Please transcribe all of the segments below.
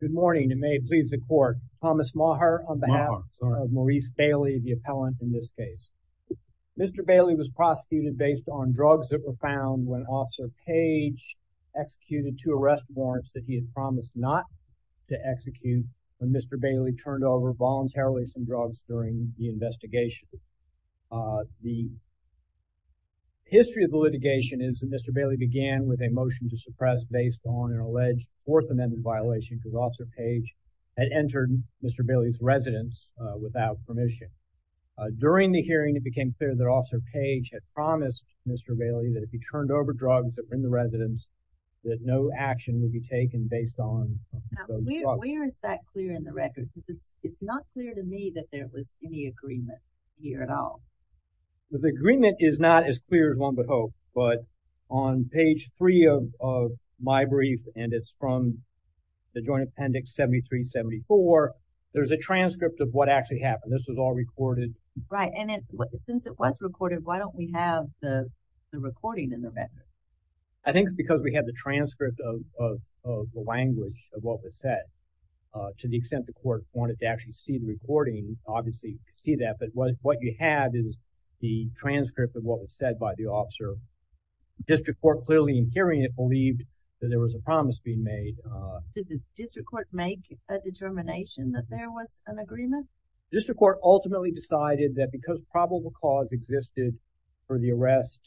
Good morning and may it please the court. Thomas Maher on behalf of Maurice Bailey, the appellant in this case. Mr. Bailey was prosecuted based on drugs that were found when Officer Page executed two arrest warrants that he had promised not to execute when Mr. Bailey turned over voluntarily some drugs during the investigation. The history of the litigation is that Mr. Bailey began with a motion to suppress based on an alleged Fourth Amendment violation because Officer Page had entered Mr. Bailey's residence without permission. During the hearing it became clear that Officer Page had promised Mr. Bailey that if he turned over drugs that were in the residence that no action would be taken based on those drugs. Where is that clear in the record? It's not clear to me that there was any agreement here at all. The agreement is not as clear as one would hope but on page three of my brief and it's from the Joint Appendix 7374 there's a transcript of what actually happened. This was all recorded. Right and since it was recorded why don't we have the recording in the record? I think because we have the transcript of the language of what was said to the extent the court wanted to actually see the recording obviously you can see that but what you have is the transcript of what was said by the officer. District Court clearly in hearing it believed that there was a promise being made. Did the district court make a determination that there was an agreement? District Court ultimately decided that because probable cause existed for the arrest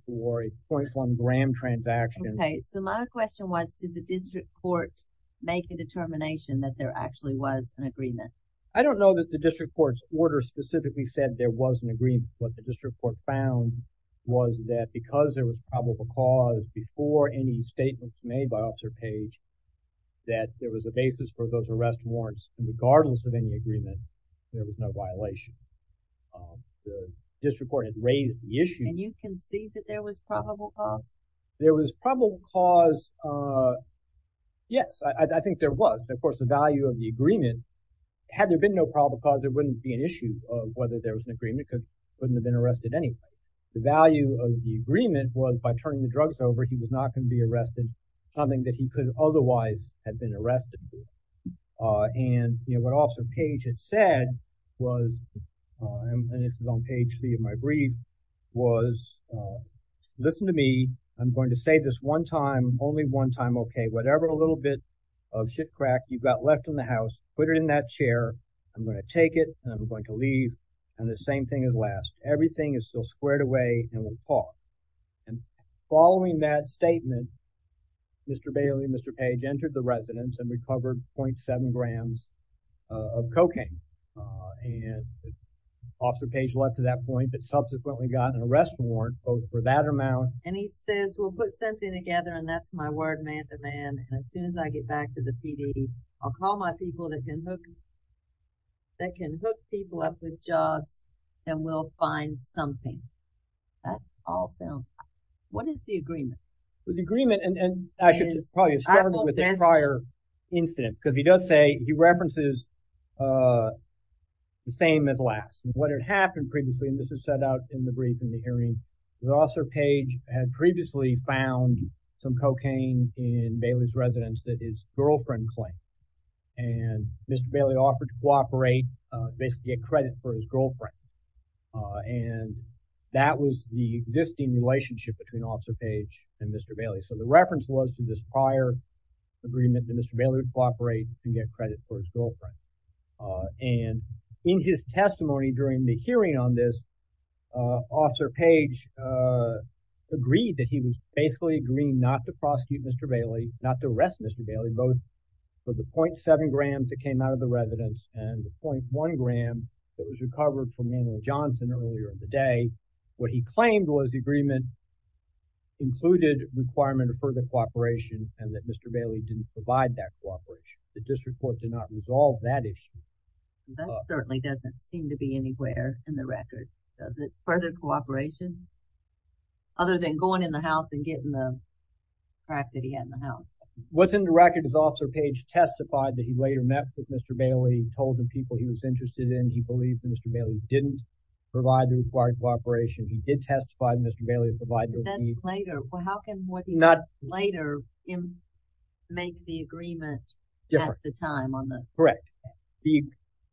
for a .1 gram transaction. Okay so my question was did the district court make a determination that there actually was an agreement? I don't know that the district court's order specifically said there was an agreement. What the district court found was that because there was probable cause before any statements made by Officer Page that there was a basis for those arrest warrants regardless of any agreement there was no violation. The district court had raised the issue. And you can see that there was probable cause? There was probable cause yes I think there was of course the value of the agreement had there been no probable cause there wouldn't be an issue of whether there was an agreement because he wouldn't have been arrested anyway. The value of the agreement was by turning the drugs over he was not going to be arrested something that he could otherwise have been arrested. And you know what Officer Page had said was and it's on page three of my brief was listen to me I'm going to say this one time only one time okay whatever a little bit of shit-crack you've got left in the house put it in that chair I'm going to take it and I'm going to leave and the same thing as last everything is still squared away and we'll talk. And following that statement Mr. Bailey and Mr. Page entered the residence and recovered 0.7 grams of cocaine and Officer Page left at that point but subsequently got an arrest warrant both for that amount. And he says we'll put something together and that's my word man to man and as soon as I get back to the PD I'll call my people that can hook that can hook people up with drugs and we'll find something. That's all sound. What is the agreement? The agreement and I should probably start with the prior incident because he does say he references the same as last. What had happened previously and this is set out in the brief in the hearing the Officer Page had previously found some cocaine in Bailey's residence that his girlfriend claimed and Mr. Bailey offered to cooperate basically a credit for his girlfriend and that was the existing relationship between Officer Page and Mr. Bailey so the reference was to this prior agreement that Mr. Bailey would cooperate and get credit for his girlfriend. And in his testimony during the hearing on this Officer Page agreed that he was basically agreeing not to prosecute Mr. Bailey not to arrest Mr. Bailey both for the 0.7 grams that came out of the residence and the 0.1 gram that was recovered from Daniel Johnson earlier in the day. What he claimed was the agreement included requirement of further cooperation and that Mr. Bailey didn't provide that cooperation. The district court did not resolve that issue. That certainly doesn't seem to be anywhere in the record does it? Further cooperation? Other than going in the house and getting the crack that he had in the house. What's in the record is Officer Page testified that he later met with Mr. Bailey told him people he was interested in he believed Mr. Bailey didn't provide the required cooperation he did testify Mr. Bailey provided. That's later. Well how can what he later make the agreement at the time? Correct.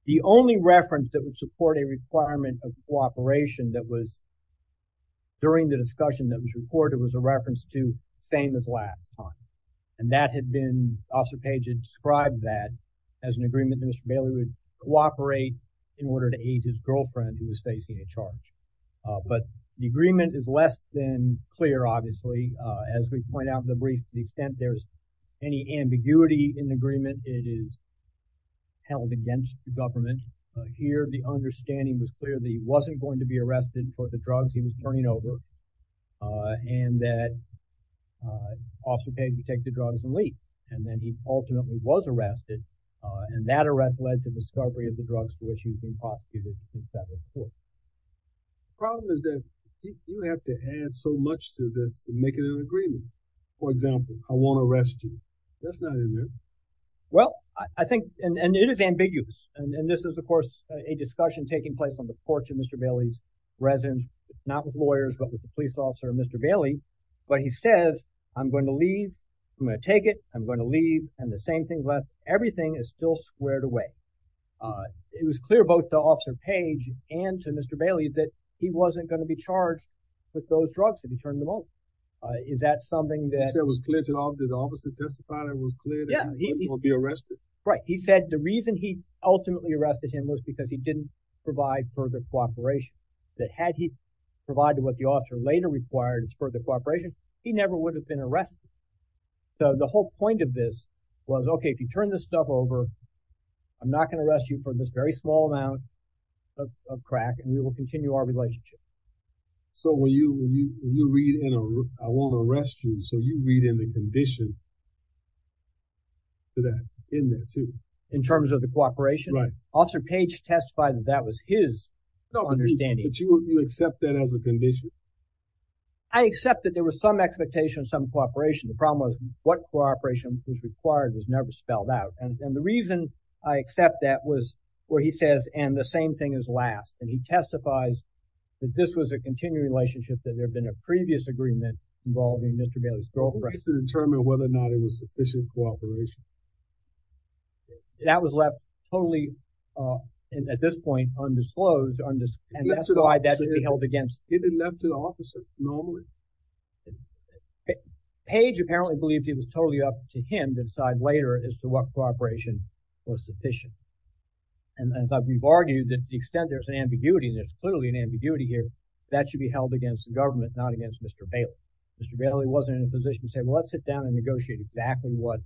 The only reference that would support a requirement of during the discussion that was reported was a reference to same as last time and that had been Officer Page had described that as an agreement that Mr. Bailey would cooperate in order to aid his girlfriend who was facing a charge. But the agreement is less than clear obviously as we point out in the brief the extent there's any ambiguity in the agreement it is held against the government. Here the understanding was clear that he wasn't going to be taking the drugs he was turning over and that Officer Page would take the drugs and leave. And then he ultimately was arrested and that arrest led to discovery of the drugs for which he was being prosecuted in federal court. The problem is that you have to add so much to this to make it an agreement. For example, I won't arrest you. That's not in there. Well I think and it is ambiguous and this is of course a discussion taking place on the porch of Mr. Bailey's residence not with lawyers but with the police officer Mr. Bailey. But he says I'm going to leave. I'm going to take it. I'm going to leave and the same thing left everything is still squared away. It was clear both to Officer Page and to Mr. Bailey that he wasn't going to be charged with those drugs that he turned them over. Is that something that was clear to the officer testifying it was clear that he wasn't going to be arrested? Right. He said the reason he ultimately arrested him was because he didn't provide further cooperation that had he provided what the officer later required it's further cooperation he never would have been arrested. So the whole point of this was okay if you turn this stuff over I'm not going to arrest you for this very small amount of crack and we will continue our relationship. So when you read I won't arrest you so you read in the condition that in there too. In terms of the cooperation? Right. Officer Page testified that that was his understanding. But you accept that as a condition? I accept that there was some expectation of some cooperation the problem was what cooperation was required was never spelled out and the reason I accept that was where he says and the same thing is last and he testifies that this was a continuing relationship that there have been a to determine whether or not it was sufficient cooperation. That was left totally at this point undisclosed and that's why that would be held against. It didn't left to the officer normally. Page apparently believed it was totally up to him to decide later as to what cooperation was sufficient and as I've argued that the extent there's an ambiguity there's clearly an ambiguity here that should be held against the government not against Mr. Bailey. Mr. Bailey said let's sit down and negotiate exactly what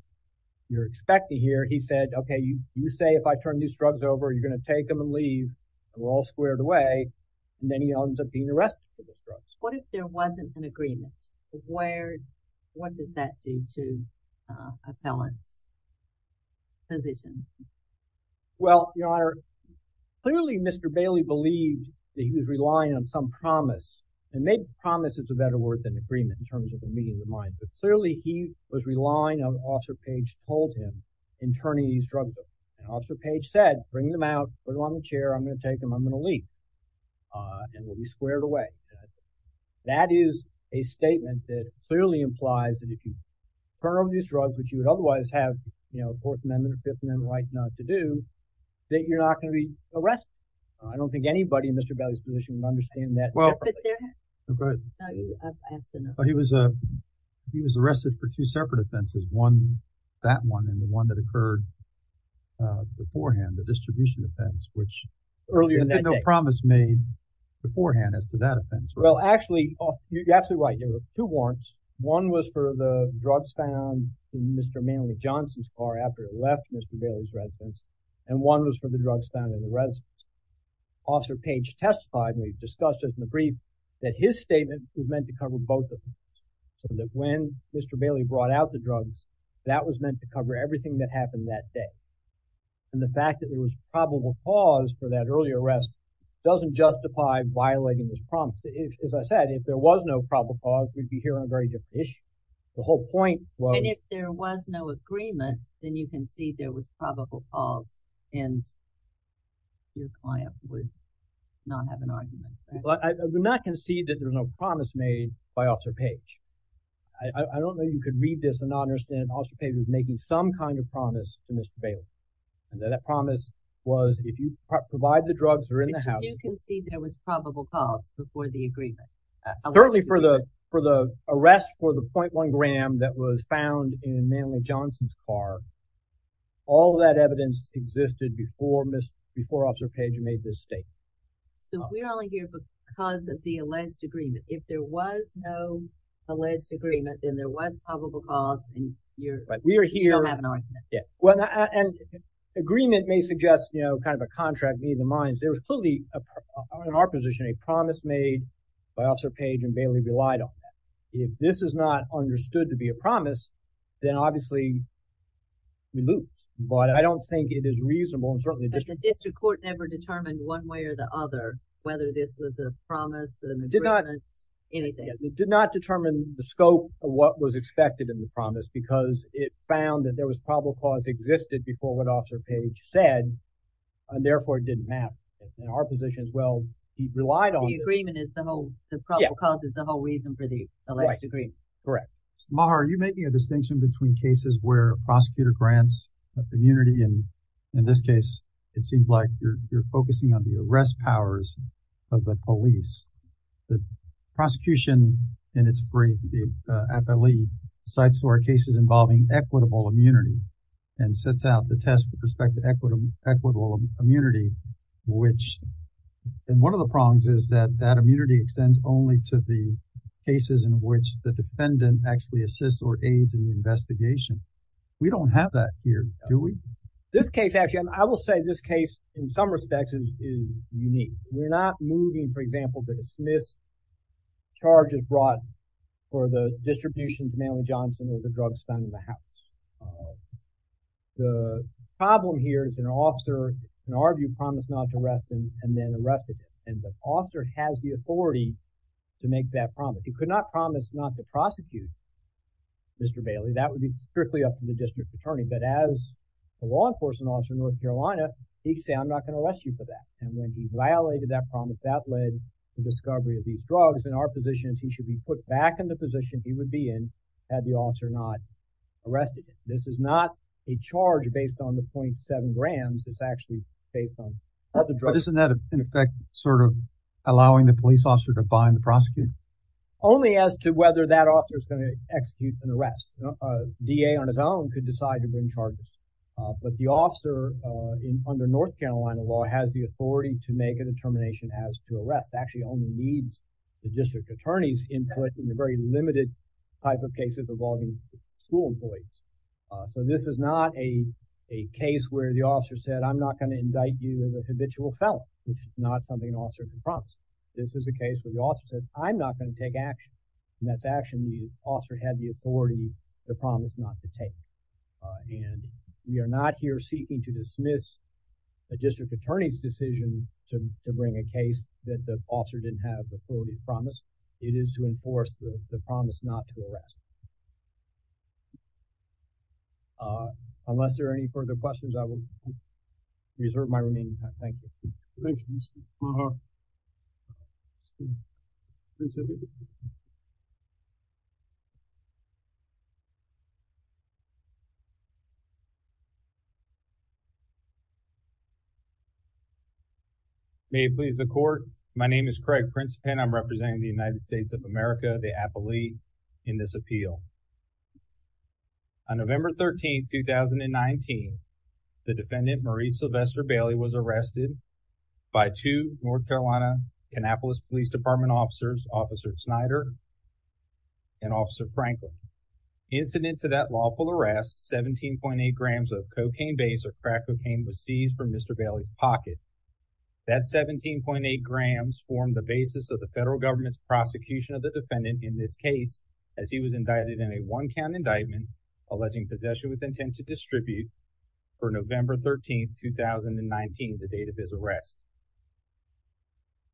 you're expecting here. He said okay you say if I turn these drugs over you're gonna take them and leave and we're all squared away and then he ends up being arrested. What if there wasn't an agreement? Where what does that do to appellant's position? Well your honor clearly Mr. Bailey believed that he was relying on some promise and maybe promise is a better word than agreement in terms of the mind but clearly he was relying on Officer Page told him in turning these drugs over and Officer Page said bring them out put them on the chair I'm gonna take them I'm gonna leave and we'll be squared away. That is a statement that clearly implies that if you turn over these drugs which you would otherwise have you know Fourth Amendment or Fifth Amendment right not to do that you're not going to be arrested. I don't think anybody in Mr. Bailey's position would understand that. Well he was a he was arrested for two separate offenses one that one and the one that occurred beforehand the distribution offense which earlier that no promise made beforehand as to that offense. Well actually you're absolutely right. There were two warrants. One was for the drugs found in Mr. Manley Johnson's car after it left Mr. Bailey's residence and one was for the drugs found in the residence. Officer Page testified and we've discussed it in the brief that his statement was meant to cover both of them so that when Mr. Bailey brought out the drugs that was meant to cover everything that happened that day and the fact that there was probable cause for that earlier arrest doesn't justify violating this promise. As I said if there was no probable cause we'd be here on a very different issue. The whole point well if there was no agreement then you can see there was probable cause and your client would not have an argument. Well I would not concede that there's no promise made by Officer Page. I don't know you could read this and not understand Officer Page was making some kind of promise to Mr. Bailey and that promise was if you provide the drugs are in the house. You can see there was probable cause before the agreement. Certainly for the for the arrest for the before Officer Page made this statement. So we're only here because of the alleged agreement. If there was no alleged agreement then there was probable cause and you don't have an argument. Yeah well and agreement may suggest you know kind of a contract me in the minds there was clearly in our position a promise made by Officer Page and Bailey relied on. If this is not understood to be a promise then obviously we looped but I don't think it is reasonable and certainly the district court never determined one way or the other whether this was a promise and did not anything did not determine the scope of what was expected in the promise because it found that there was probable cause existed before what Officer Page said and therefore it didn't have in our position as well he relied on the agreement is the whole the probable cause is the whole reason for the alleged agreement. Correct. Mr. Maher are you making a distinction between cases where prosecutor grants immunity and in this case it seems like you're focusing on the arrest powers of the police. The prosecution in its brief the FLE sites to our cases involving equitable immunity and sets out the test with respect to equity equitable immunity which and one of the prongs is that that immunity extends only to the cases in which the defendant actually assists or aids in the that here do we? This case actually I will say this case in some respects is unique we're not moving for example to dismiss charges brought for the distribution to Manly Johnson or the drugs found in the house. The problem here is an officer in our view promised not to arrest him and then arrested him and the officer has the authority to make that promise he could not promise not to prosecute Mr. Bailey that would be strictly up to the district attorney but as a law enforcement officer in North Carolina he can say I'm not going to arrest you for that and when he violated that promise that led to discovery of these drugs in our positions he should be put back in the position he would be in had the officer not arrested him. This is not a charge based on the 0.7 grams it's actually based on other drugs. But isn't that in effect sort of allowing the police officer to bind the prosecutor? Only as to whether that officer is going to execute an arrest. A DA on his own could decide to bring charges but the officer in under North Carolina law has the authority to make a determination as to arrest actually only needs the district attorney's input in the very limited type of cases involving school employees. So this is not a a case where the officer said I'm not going to indict you as a habitual felon which is not something an officer can promise. This is a case where the officer says I'm not going to take action and that's action the officer had the authority the promise not to take. And we are not here seeking to dismiss a district attorney's decision to bring a case that the officer didn't have the authority to promise. It is to enforce the promise not to arrest. Unless there are any further questions I will reserve my remaining time. Thank you. May it please the court. My name is Craig Principan. I'm representing the United States of America, the Appellee, in this appeal. On by two North Carolina Annapolis Police Department officers, Officer Snyder and Officer Franklin. Incident to that lawful arrest, 17.8 grams of cocaine base or crack cocaine was seized from Mr. Bailey's pocket. That 17.8 grams formed the basis of the federal government's prosecution of the defendant in this case as he was indicted in a one-count indictment alleging possession with 2019 the date of his arrest.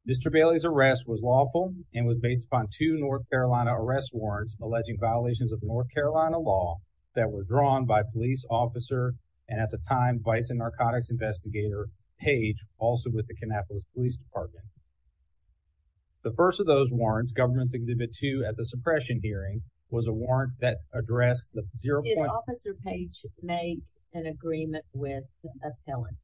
Mr. Bailey's arrest was lawful and was based upon two North Carolina arrest warrants alleging violations of North Carolina law that were drawn by police officer and at the time vice and narcotics investigator page also with the Annapolis Police Department. The first of those warrants government's exhibit to at the suppression hearing was a warrant that addressed the zero officer page made an agreement with appellant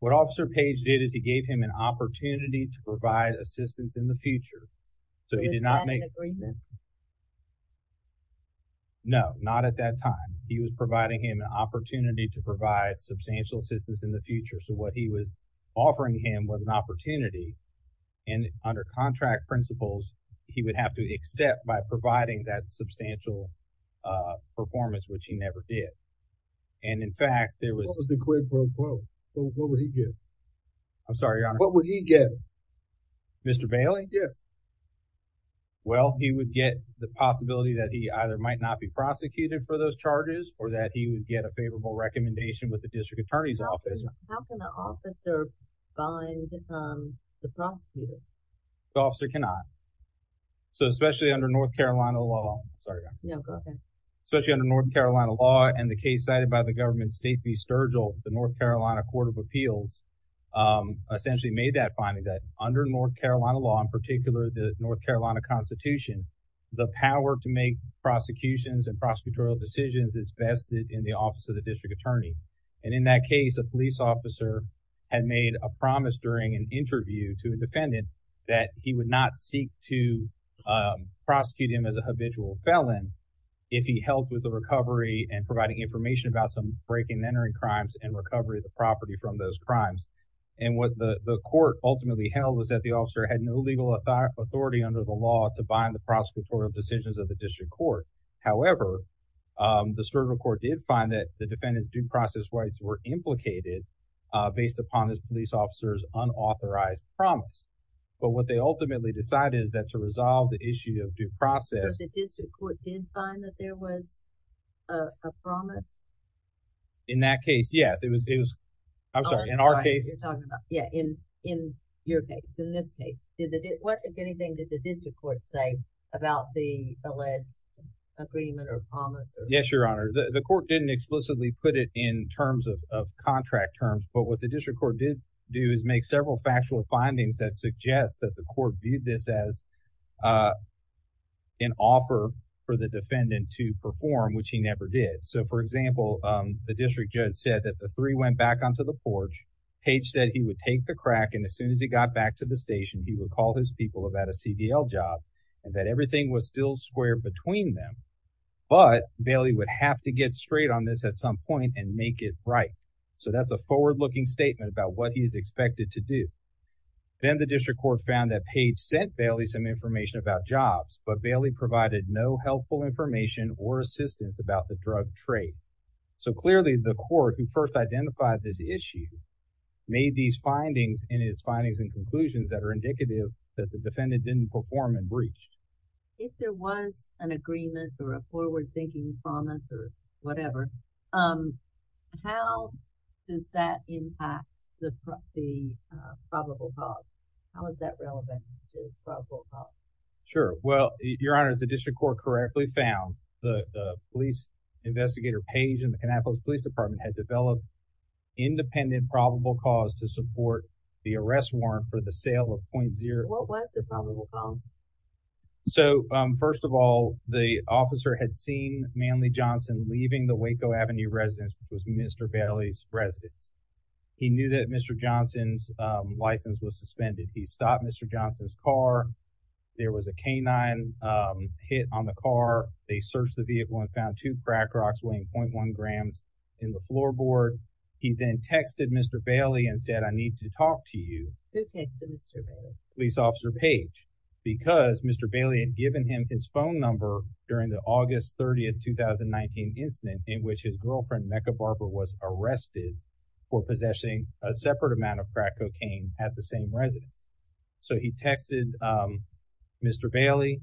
what officer page did is he gave him an opportunity to provide assistance in the future so he did not make agreement no not at that time he was providing him an opportunity to provide substantial assistance in the future so what he was offering him was an opportunity and under contract principles he would have to accept by substantial performance which he never did and in fact there was the quid pro quo what would he get I'm sorry what would he get mr. Bailey yeah well he would get the possibility that he either might not be prosecuted for those charges or that he would get a favorable recommendation with the district attorney's office the officer cannot so especially under North Carolina law especially under North Carolina law and the case cited by the government state be Sturgill the North Carolina Court of Appeals essentially made that finding that under North Carolina law in particular the North Carolina Constitution the power to make prosecutions and prosecutorial decisions is vested in the office of the district attorney and in that case a police officer had made a promise during an interview to a defendant that he would not seek to prosecute him as a habitual felon if he helped with the recovery and providing information about some break-in entering crimes and recovery of the property from those crimes and what the the court ultimately held was that the officer had no legal authority under the law to bind the prosecutorial decisions of the district court however the Sturgill court did find that the defendants due process rights were implicated based upon this officers unauthorized promise but what they ultimately decided is that to resolve the issue of due process in that case yes it was I'm sorry in our case yeah in in your case in this case did it what if anything did the district court say about the alleged agreement or promise yes your honor the court didn't explicitly put it in terms of contract terms but what the district court did do is make several factual findings that suggest that the court viewed this as an offer for the defendant to perform which he never did so for example the district judge said that the three went back onto the porch Paige said he would take the crack and as soon as he got back to the station he would call his people about a CDL job and that everything was still square between them but Bailey would have to get straight on this at some point and make it right so that's a forward-looking statement about what he is expected to do then the district court found that page sent Bailey some information about jobs but Bailey provided no helpful information or assistance about the drug trade so clearly the court who first identified this issue made these findings in his findings and conclusions that are indicative that the defendant didn't perform and breach if there was an agreement or a forward-thinking promise or whatever how does that impact the probable cause sure well your honor is the district court correctly found the police investigator page in the Kannapolis Police Department had developed independent probable cause to support the arrest warrant for the sale of .0 so first of all the officer had seen Manley Johnson leaving the Waco Avenue residence was mr. Bailey's residence he knew that mr. Johnson's license was suspended he stopped mr. Johnson's car there was a canine hit on the car they searched the vehicle and found two crack rocks weighing 0.1 grams in the floorboard he then texted mr. Bailey and said I need to talk to you police officer page because mr. Bailey given him his phone number during the August 30th 2019 incident in which his girlfriend Mecca Barbara was arrested for possessing a separate amount of crack cocaine at the same residence so he texted mr. Bailey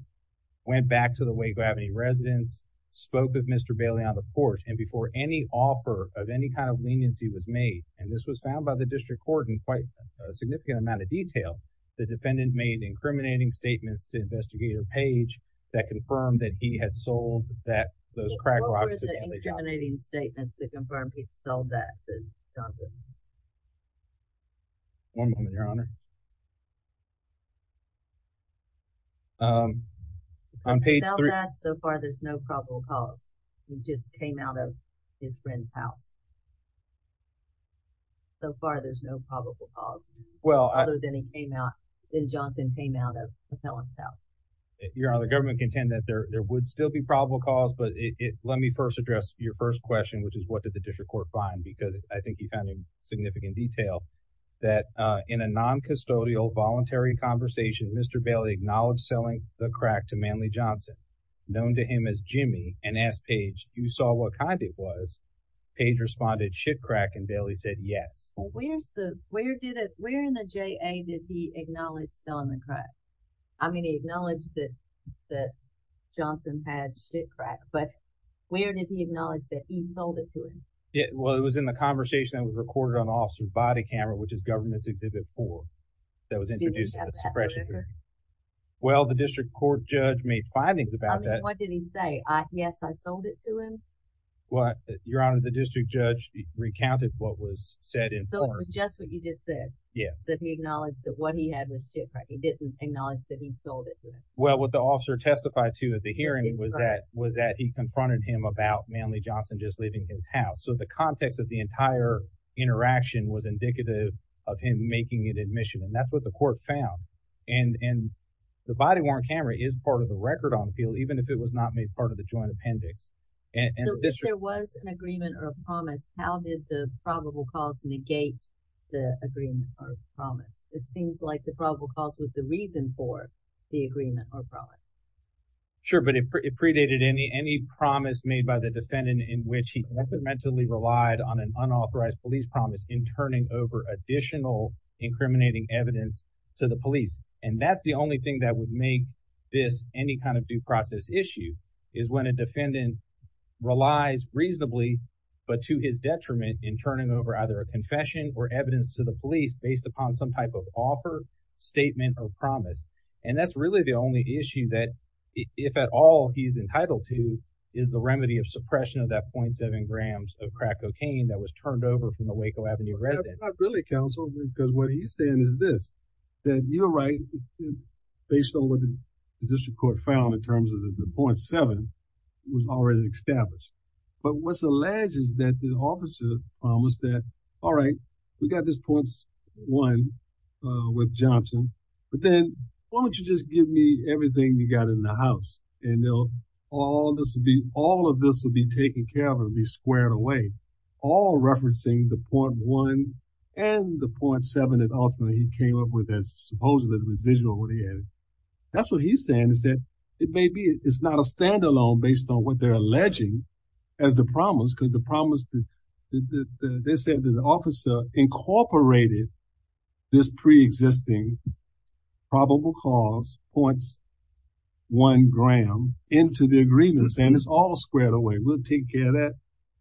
went back to the Waco Avenue residence spoke with mr. Bailey on the porch and before any offer of any kind of leniency was made and this was found by the district court in quite a significant amount of detail the defendant made incriminating statements to investigator page that confirmed that he had sold that those crack rocks incriminating statements that confirmed he sold that one moment your honor I'm paid so far there's no probable cause he just came out of his friend's house so far there's no probable cause well then he came out then Johnson came you're on the government contend that there would still be probable cause but it let me first address your first question which is what did the district court find because I think you found in significant detail that in a non custodial voluntary conversation mr. Bailey acknowledged selling the crack to Manley Johnson known to him as Jimmy and asked page you saw what kind it was page responded shit crack and Bailey said yes where's the where did it where in the I mean he acknowledged that that Johnson had shit crack but where did he acknowledge that he sold it to him yeah well it was in the conversation that was recorded on officer's body camera which is government's exhibit for that was introduced in the suppression well the district court judge made findings about that what did he say I guess I sold it to him what your honor the district judge recounted what was said in just what you just said yes that he well what the officer testified to at the hearing was that was that he confronted him about Manley Johnson just leaving his house so the context of the entire interaction was indicative of him making it admission and that's what the court found and and the body-worn camera is part of the record on appeal even if it was not made part of the joint appendix and there was an agreement or a promise how did the probable cause negate the agreement of promise it seems like the probable cause was the reason for the agreement or promise sure but it predated any any promise made by the defendant in which he definitely relied on an unauthorized police promise in turning over additional incriminating evidence to the police and that's the only thing that would make this any kind of due process issue is when a defendant relies reasonably but to his detriment in turning over either a confession or evidence to the police based upon some type of offer statement or promise and that's really the only issue that if at all he's entitled to is the remedy of suppression of that 0.7 grams of crack cocaine that was turned over from the Waco Avenue residents really counsel because what he's saying is this that you're right based on what the district court found in terms of the 0.7 was already established but what's officer was that all right we got this points one with Johnson but then why don't you just give me everything you got in the house and they'll all this would be all of this will be taken care of and be squared away all referencing the point one and the 0.7 and ultimately he came up with this supposedly the residual what he added that's what he's saying is that it may be it's not a the promise they said that the officer incorporated this pre-existing probable cause points one gram into the agreements and it's all squared away we'll take care of that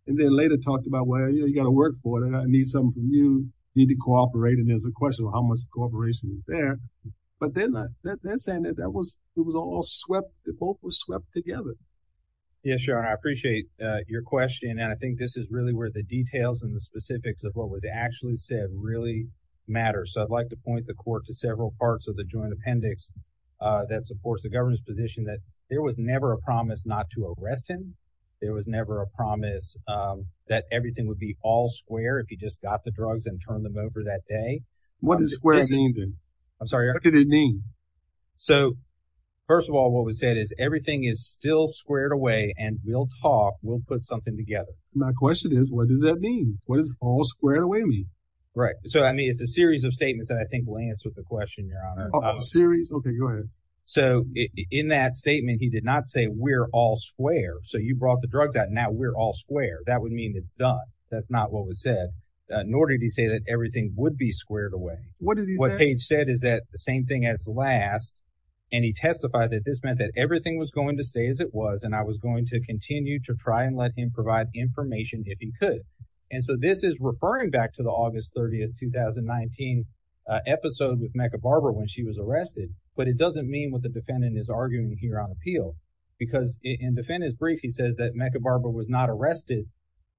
and then later talked about where you got to work for that I need something you need to cooperate and there's a question of how much cooperation is there but they're not that they're saying that that was it was all swept it both was swept together yeah sure I appreciate your question and I think this is really where the details and the specifics of what was actually said really matter so I'd like to point the court to several parts of the joint appendix that supports the government's position that there was never a promise not to arrest him there was never a promise that everything would be all square if you just got the drugs and turn them over that day what is squares even I'm sorry I could it mean so first of all what we said is everything is still squared away and we'll talk we'll put something together my question is what does that mean what is all squared away me right so I mean it's a series of statements that I think will answer the question you're on a series okay go ahead so in that statement he did not say we're all square so you brought the drugs out now we're all square that would mean it's done that's not what was said in order to say that everything would be squared away what did he what page said is that the same thing at its last and he was going to stay as it was and I was going to continue to try and let him provide information if he could and so this is referring back to the August 30th 2019 episode with Mecca Barbara when she was arrested but it doesn't mean what the defendant is arguing here on appeal because in defendant's brief he says that Mecca Barbara was not arrested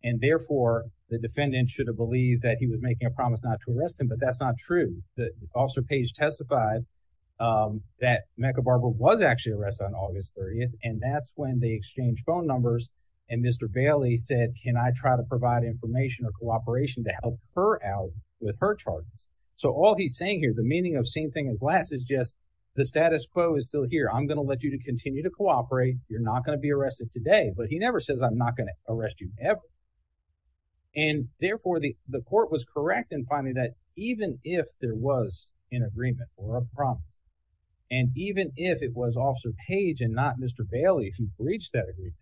and therefore the defendant should have believed that he was making a promise not to arrest him but that's not true page testified that Mecca Barbara was actually arrested on August 30th and that's when they exchanged phone numbers and mr. Bailey said can I try to provide information or cooperation to help her out with her charges so all he's saying here the meaning of same thing as last is just the status quo is still here I'm gonna let you to continue to cooperate you're not gonna be arrested today but he never says I'm not gonna arrest you ever and therefore the the court was correct in finding that even if there was an agreement or a promise and even if it was officer page and not mr. Bailey who breached that agree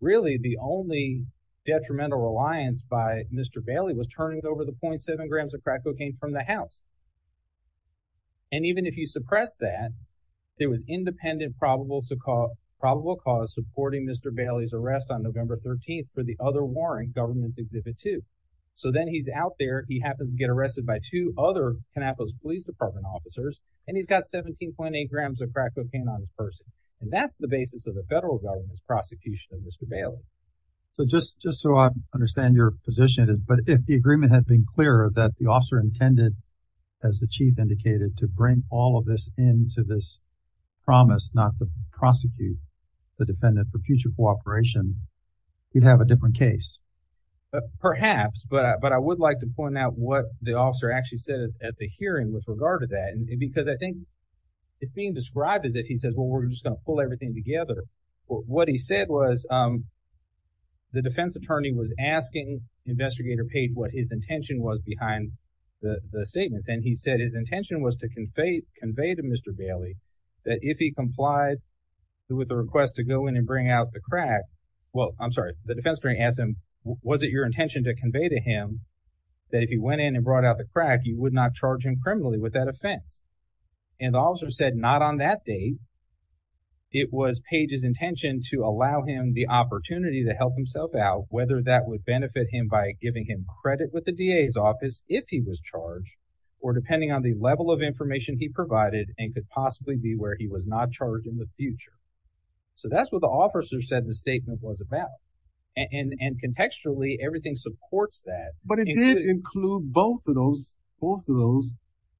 really the only detrimental reliance by mr. Bailey was turning over the point seven grams of crack cocaine from the house and even if you suppress that there was independent probable to call probable cause supporting mr. Bailey's arrest on November 13th for the other warrant government's exhibit to so then he's out there he happens to get arrested by two other canapolis police department officers and he's got 17.8 grams of crack cocaine on his person and that's the basis of the federal government's prosecution of mr. Bailey so just just so I understand your position but if the agreement had been clear that the officer intended as the chief indicated to bring all of this into this promise not to prosecute the defendant for future cooperation you'd have a what the officer actually said at the hearing with regard to that and because I think it's being described as if he says well we're just gonna pull everything together what he said was the defense attorney was asking investigator paid what his intention was behind the statements and he said his intention was to convey convey to mr. Bailey that if he complied with the request to go in and bring out the crack well I'm sorry the defense attorney asked him was it your intention to convey to him that if he went in and brought out the crack you would not charge him criminally with that offense and the officer said not on that day it was pages intention to allow him the opportunity to help himself out whether that would benefit him by giving him credit with the DA's office if he was charged or depending on the level of information he provided and could possibly be where he was not charged in the future so that's what the officer said the statement was about and and contextually everything supports that but it didn't include both of those both of those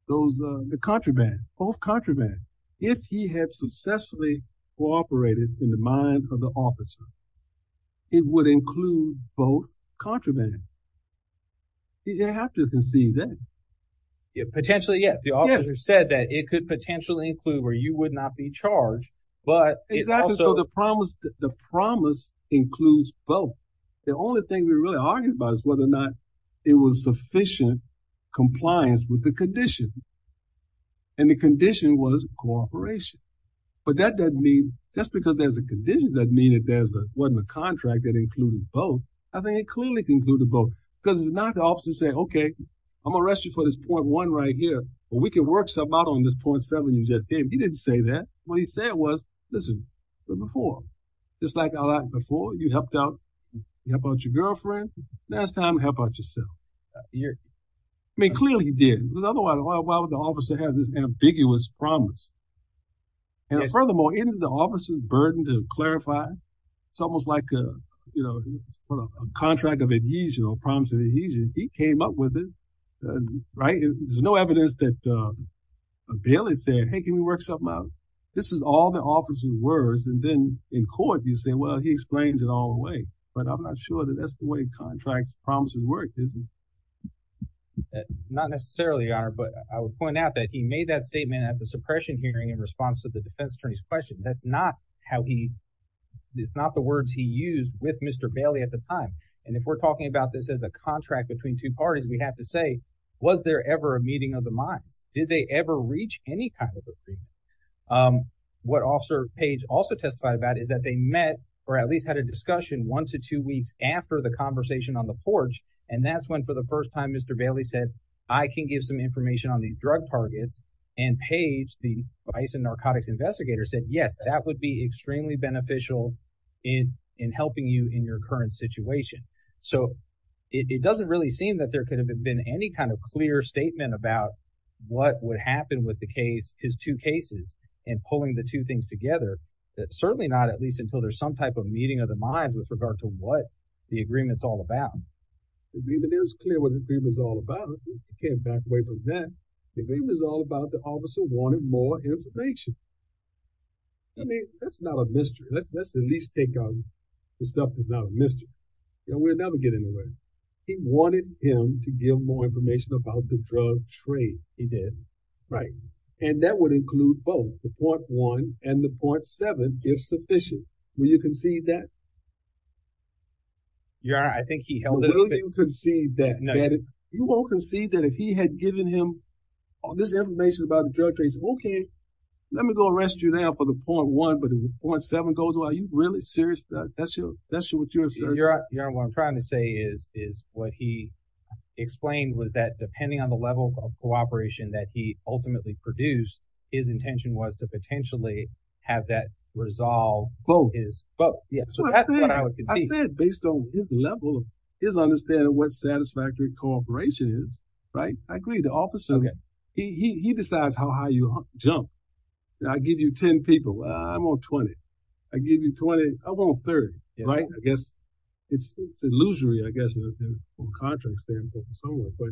those the contraband both contraband if he had successfully cooperated in the mind of the officer it would include both contraband you have to conceive then it potentially yes the officer said that it could potentially include where you would not be charged but the promise the promise includes both the only thing we really argued about is whether or not it was sufficient compliance with the condition and the condition was cooperation but that doesn't mean just because there's a condition that mean it there's a wasn't a contract that included both I think it clearly concluded both because it's not the officer say okay I'm arrest you for this point one right here but we can work some out on this point seven you just gave he didn't say that what he said was listen before just like a lot before you helped out about your girlfriend last time how about yourself yeah I mean clearly he did the other one why would the officer have this ambiguous promise and furthermore in the officer's burden to clarify it's almost like you know a contract of adhesion or promise of adhesion he came up with it right there's no evidence that Bailey said hey can we work something out this is all the officer's words and then in court you say well he explains it all the way but I'm not sure that that's the way contracts promises work isn't not necessarily our but I would point out that he made that statement at the suppression hearing in response to the defense attorney's question that's not how he it's not the words he used with mr. Bailey at the time and if we're talking about this as a contract between two parties we have to say was there ever a meeting of the minds did they ever reach any kind of agreement what officer page also testified about is that they met or at least had a discussion one to two weeks after the conversation on the porch and that's when for the first time mr. Bailey said I can give some information on these drug targets and page the ice and narcotics investigators said yes that would be extremely beneficial in in helping you in your current situation so it doesn't really seem that there could have been any kind of clear statement about what would happen with the case his two cases and pulling the two things together that certainly not at least until there's some type of meeting of the minds with regard to what the agreements all about it is clear what it was all about came back away from that it was all about the officer wanted more information I mean that's not a mystery let's let's at least take on the stuff that's not a mystery you know we're getting away he wanted him to give more information about the drug trade he did right and that would include both the point one and the point seven if sufficient will you concede that yeah I think he held a little you could see that no you won't concede that if he had given him all this information about the drug trace okay let me go arrest you there for the point one but it was point seven goes well you really serious that's you that's you what you're trying to say is is what he explained was that depending on the level of cooperation that he ultimately produced his intention was to potentially have that resolve both is but yes based on his level his understanding what satisfactory cooperation is right I agree the officer okay he decides how high you jump I give you ten people I'm on 20 I give you 20 I'm on 30 right I it's it's illusory I guess from a contract standpoint somewhere but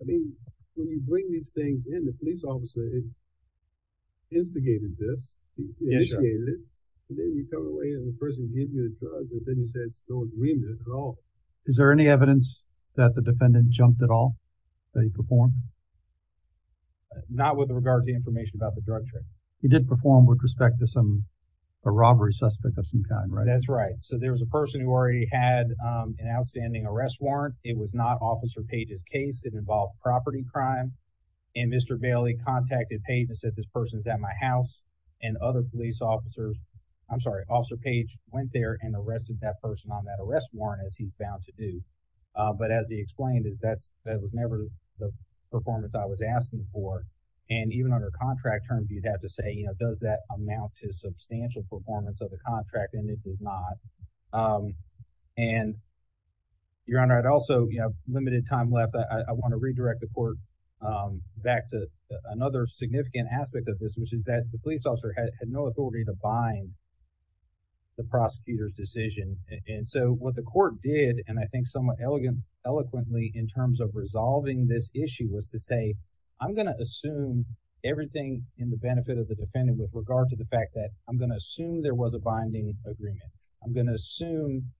I mean when you bring these things in the police officer it instigated this and then you come away and the person gives you a drug and then you say it's no agreement at all is there any evidence that the defendant jumped at all that he performed not with regard to the information about the drug trade he did perform with respect to some a robbery suspect of some kind right that's right so there was a person who already had an outstanding arrest warrant it was not officer pages case it involved property crime and mr. Bailey contacted pages at this person's at my house and other police officers I'm sorry officer page went there and arrested that person on that arrest warrant as he's bound to do but as he explained is that's that was never the performance I was asking for and even under contract terms you'd have to say you know does that amount to and your honor I'd also you know limited time left I want to redirect the court back to another significant aspect of this which is that the police officer had no authority to bind the prosecutor's decision and so what the court did and I think somewhat elegant eloquently in terms of resolving this issue was to say I'm gonna assume everything in the benefit of the defendant with regard to the fact that I'm gonna assume there was a binding agreement I'm gonna assume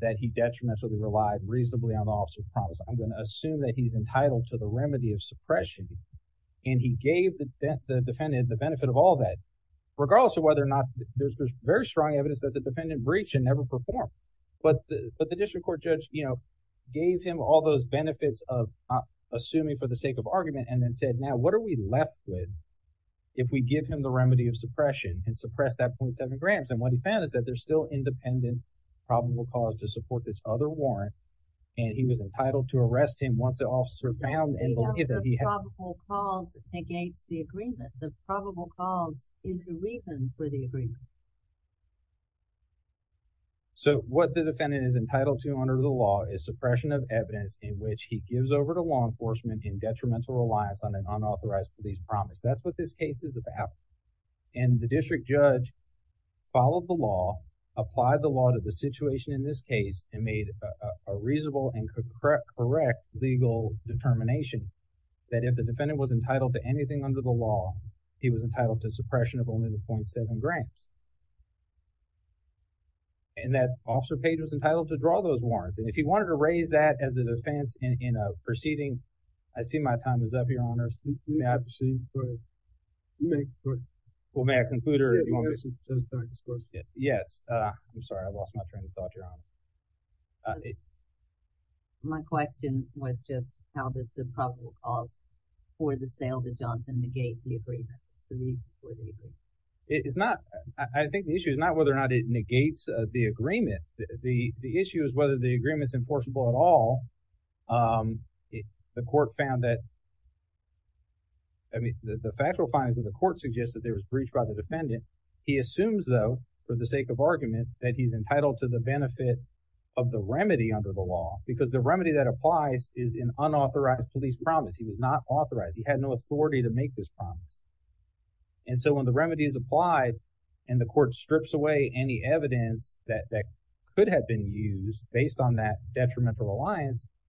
that he detrimentally relied reasonably on officer's promise I'm gonna assume that he's entitled to the remedy of suppression and he gave the defendant the benefit of all that regardless of whether or not there's very strong evidence that the defendant breach and never performed but but the district court judge you know gave him all those benefits of assuming for the sake of argument and then said now what are we left with if we give him the remedy of suppression and suppress that point seven grams and what he found is that there's still independent probable cause to support this other warrant and he was entitled to arrest him once it all surrounded the probable cause in the reason for the agreement so what the defendant is entitled to under the law is suppression of evidence in which he gives over to law enforcement in detrimental reliance on an unauthorized police promise that's what this case is about and the district judge followed the law applied the law to the situation in this case and made a reasonable and could correct correct legal determination that if the defendant was entitled to anything under the law he was entitled to suppression of only the point seven grams and that officer page was entitled to draw those warrants and if he wanted to raise that as an offense in a proceeding I see my time is up your mercy we have to see well may I conclude yes I'm sorry I lost my train of thought your honor my question was just how does the probable cause for the sale the Johnson negate the agreement it is not I think the issue is not whether or not it negates the agreement the the issue is whether the agreement is at all the court found that I mean the factual findings of the court suggested there was breached by the defendant he assumes though for the sake of argument that he's entitled to the benefit of the remedy under the law because the remedy that applies is an unauthorized police promise he was not authorized he had no authority to make this promise and so when the remedy is applied and the court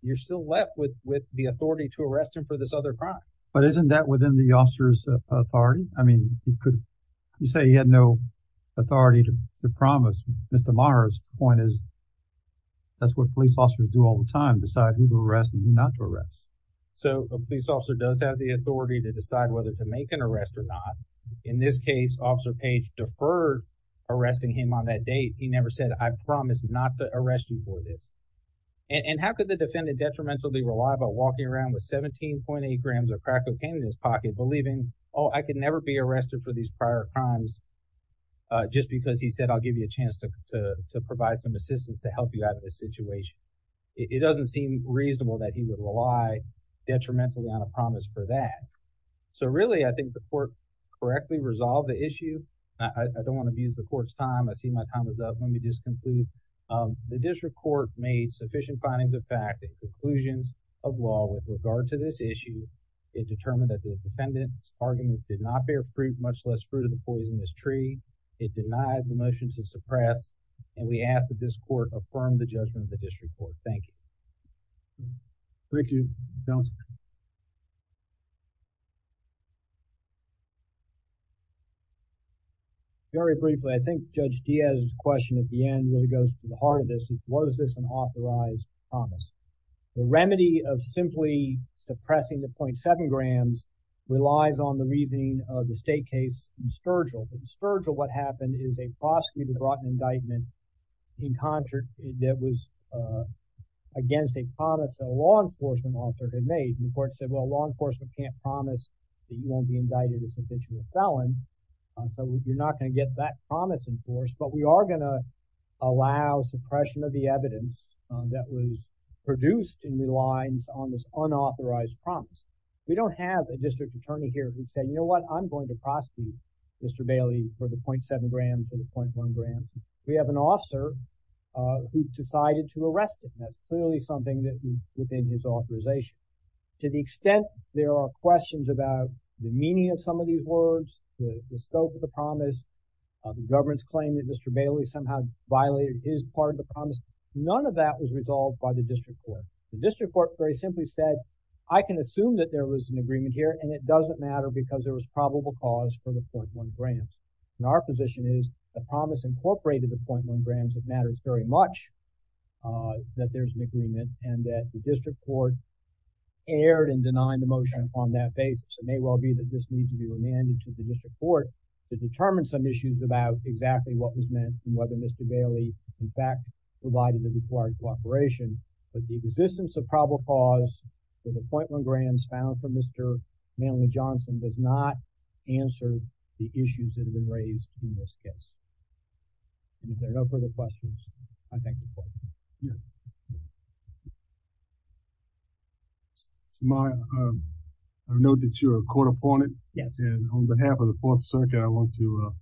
you're still left with with the authority to arrest him for this other crime but isn't that within the officers authority I mean you could you say he had no authority to promise mr. Morris point is that's what police officers do all the time decide who to arrest and not to arrest so a police officer does have the authority to decide whether to make an arrest or not in this case officer page deferred arresting him on that date he never said I promised not to arrest you for this and and how could the defendant detrimentally rely about walking around with 17.8 grams of crack cocaine in his pocket believing oh I could never be arrested for these prior crimes just because he said I'll give you a chance to provide some assistance to help you out of this situation it doesn't seem reasonable that he would rely detrimentally on a promise for that so really I think the court correctly resolved the issue I don't want to abuse the court's time I see my time is up let me just conclude the district court made sufficient findings of fact and conclusions of law with regard to this issue it determined that the defendant's arguments did not bear fruit much less fruit of the poisonous tree it denied the motion to suppress and we ask that this court affirm the judgment of the district thank you very briefly I think judge Diaz's question at the end really goes to the heart of this is what is this an authorized promise the remedy of simply suppressing the point seven grams relies on the reasoning of the state case Sturgill Sturgill what happened is a prosecutor brought an indictment in concert that was against a promise that a law enforcement officer had made and the court said well law enforcement can't promise that you won't be indicted as a felon so you're not going to get that promise enforced but we are gonna allow suppression of the evidence that was produced in the lines on this unauthorized promise we don't have a district attorney here who said you know what I'm going to prosecute mr. Bailey for the point seven grams or the point we have an officer who decided to arrest him that's clearly something that within his authorization to the extent there are questions about the meaning of some of these words the scope of the promise the government's claim that mr. Bailey somehow violated his part of the promise none of that was resolved by the district court the district court very simply said I can assume that there was an agreement here and it doesn't matter because there was probable cause for the promise incorporated the point one grams that matters very much that there's an agreement and that the district court erred and denied the motion on that basis it may well be that this needs to be remanded to the district court to determine some issues about exactly what was meant and whether mr. Bailey in fact provided the required cooperation but the existence of probable cause for the point one grams found for mr. Johnson does not answer the issues that have been raised in this case there are no further questions I think it's my I know that you're a court opponent yes and on behalf of the Fourth Circuit I want to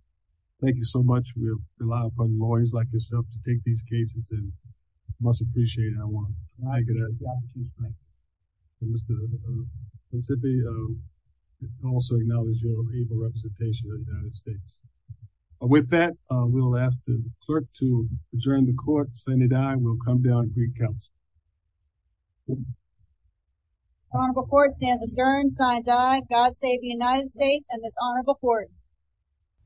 thank you so much we rely upon lawyers like yourself to take these cases and must appreciate I want I could also acknowledge your representation with that we'll ask the clerk to adjourn the court Senate I will come down three counts before stand adjourned signed I God save the United States and this honorable court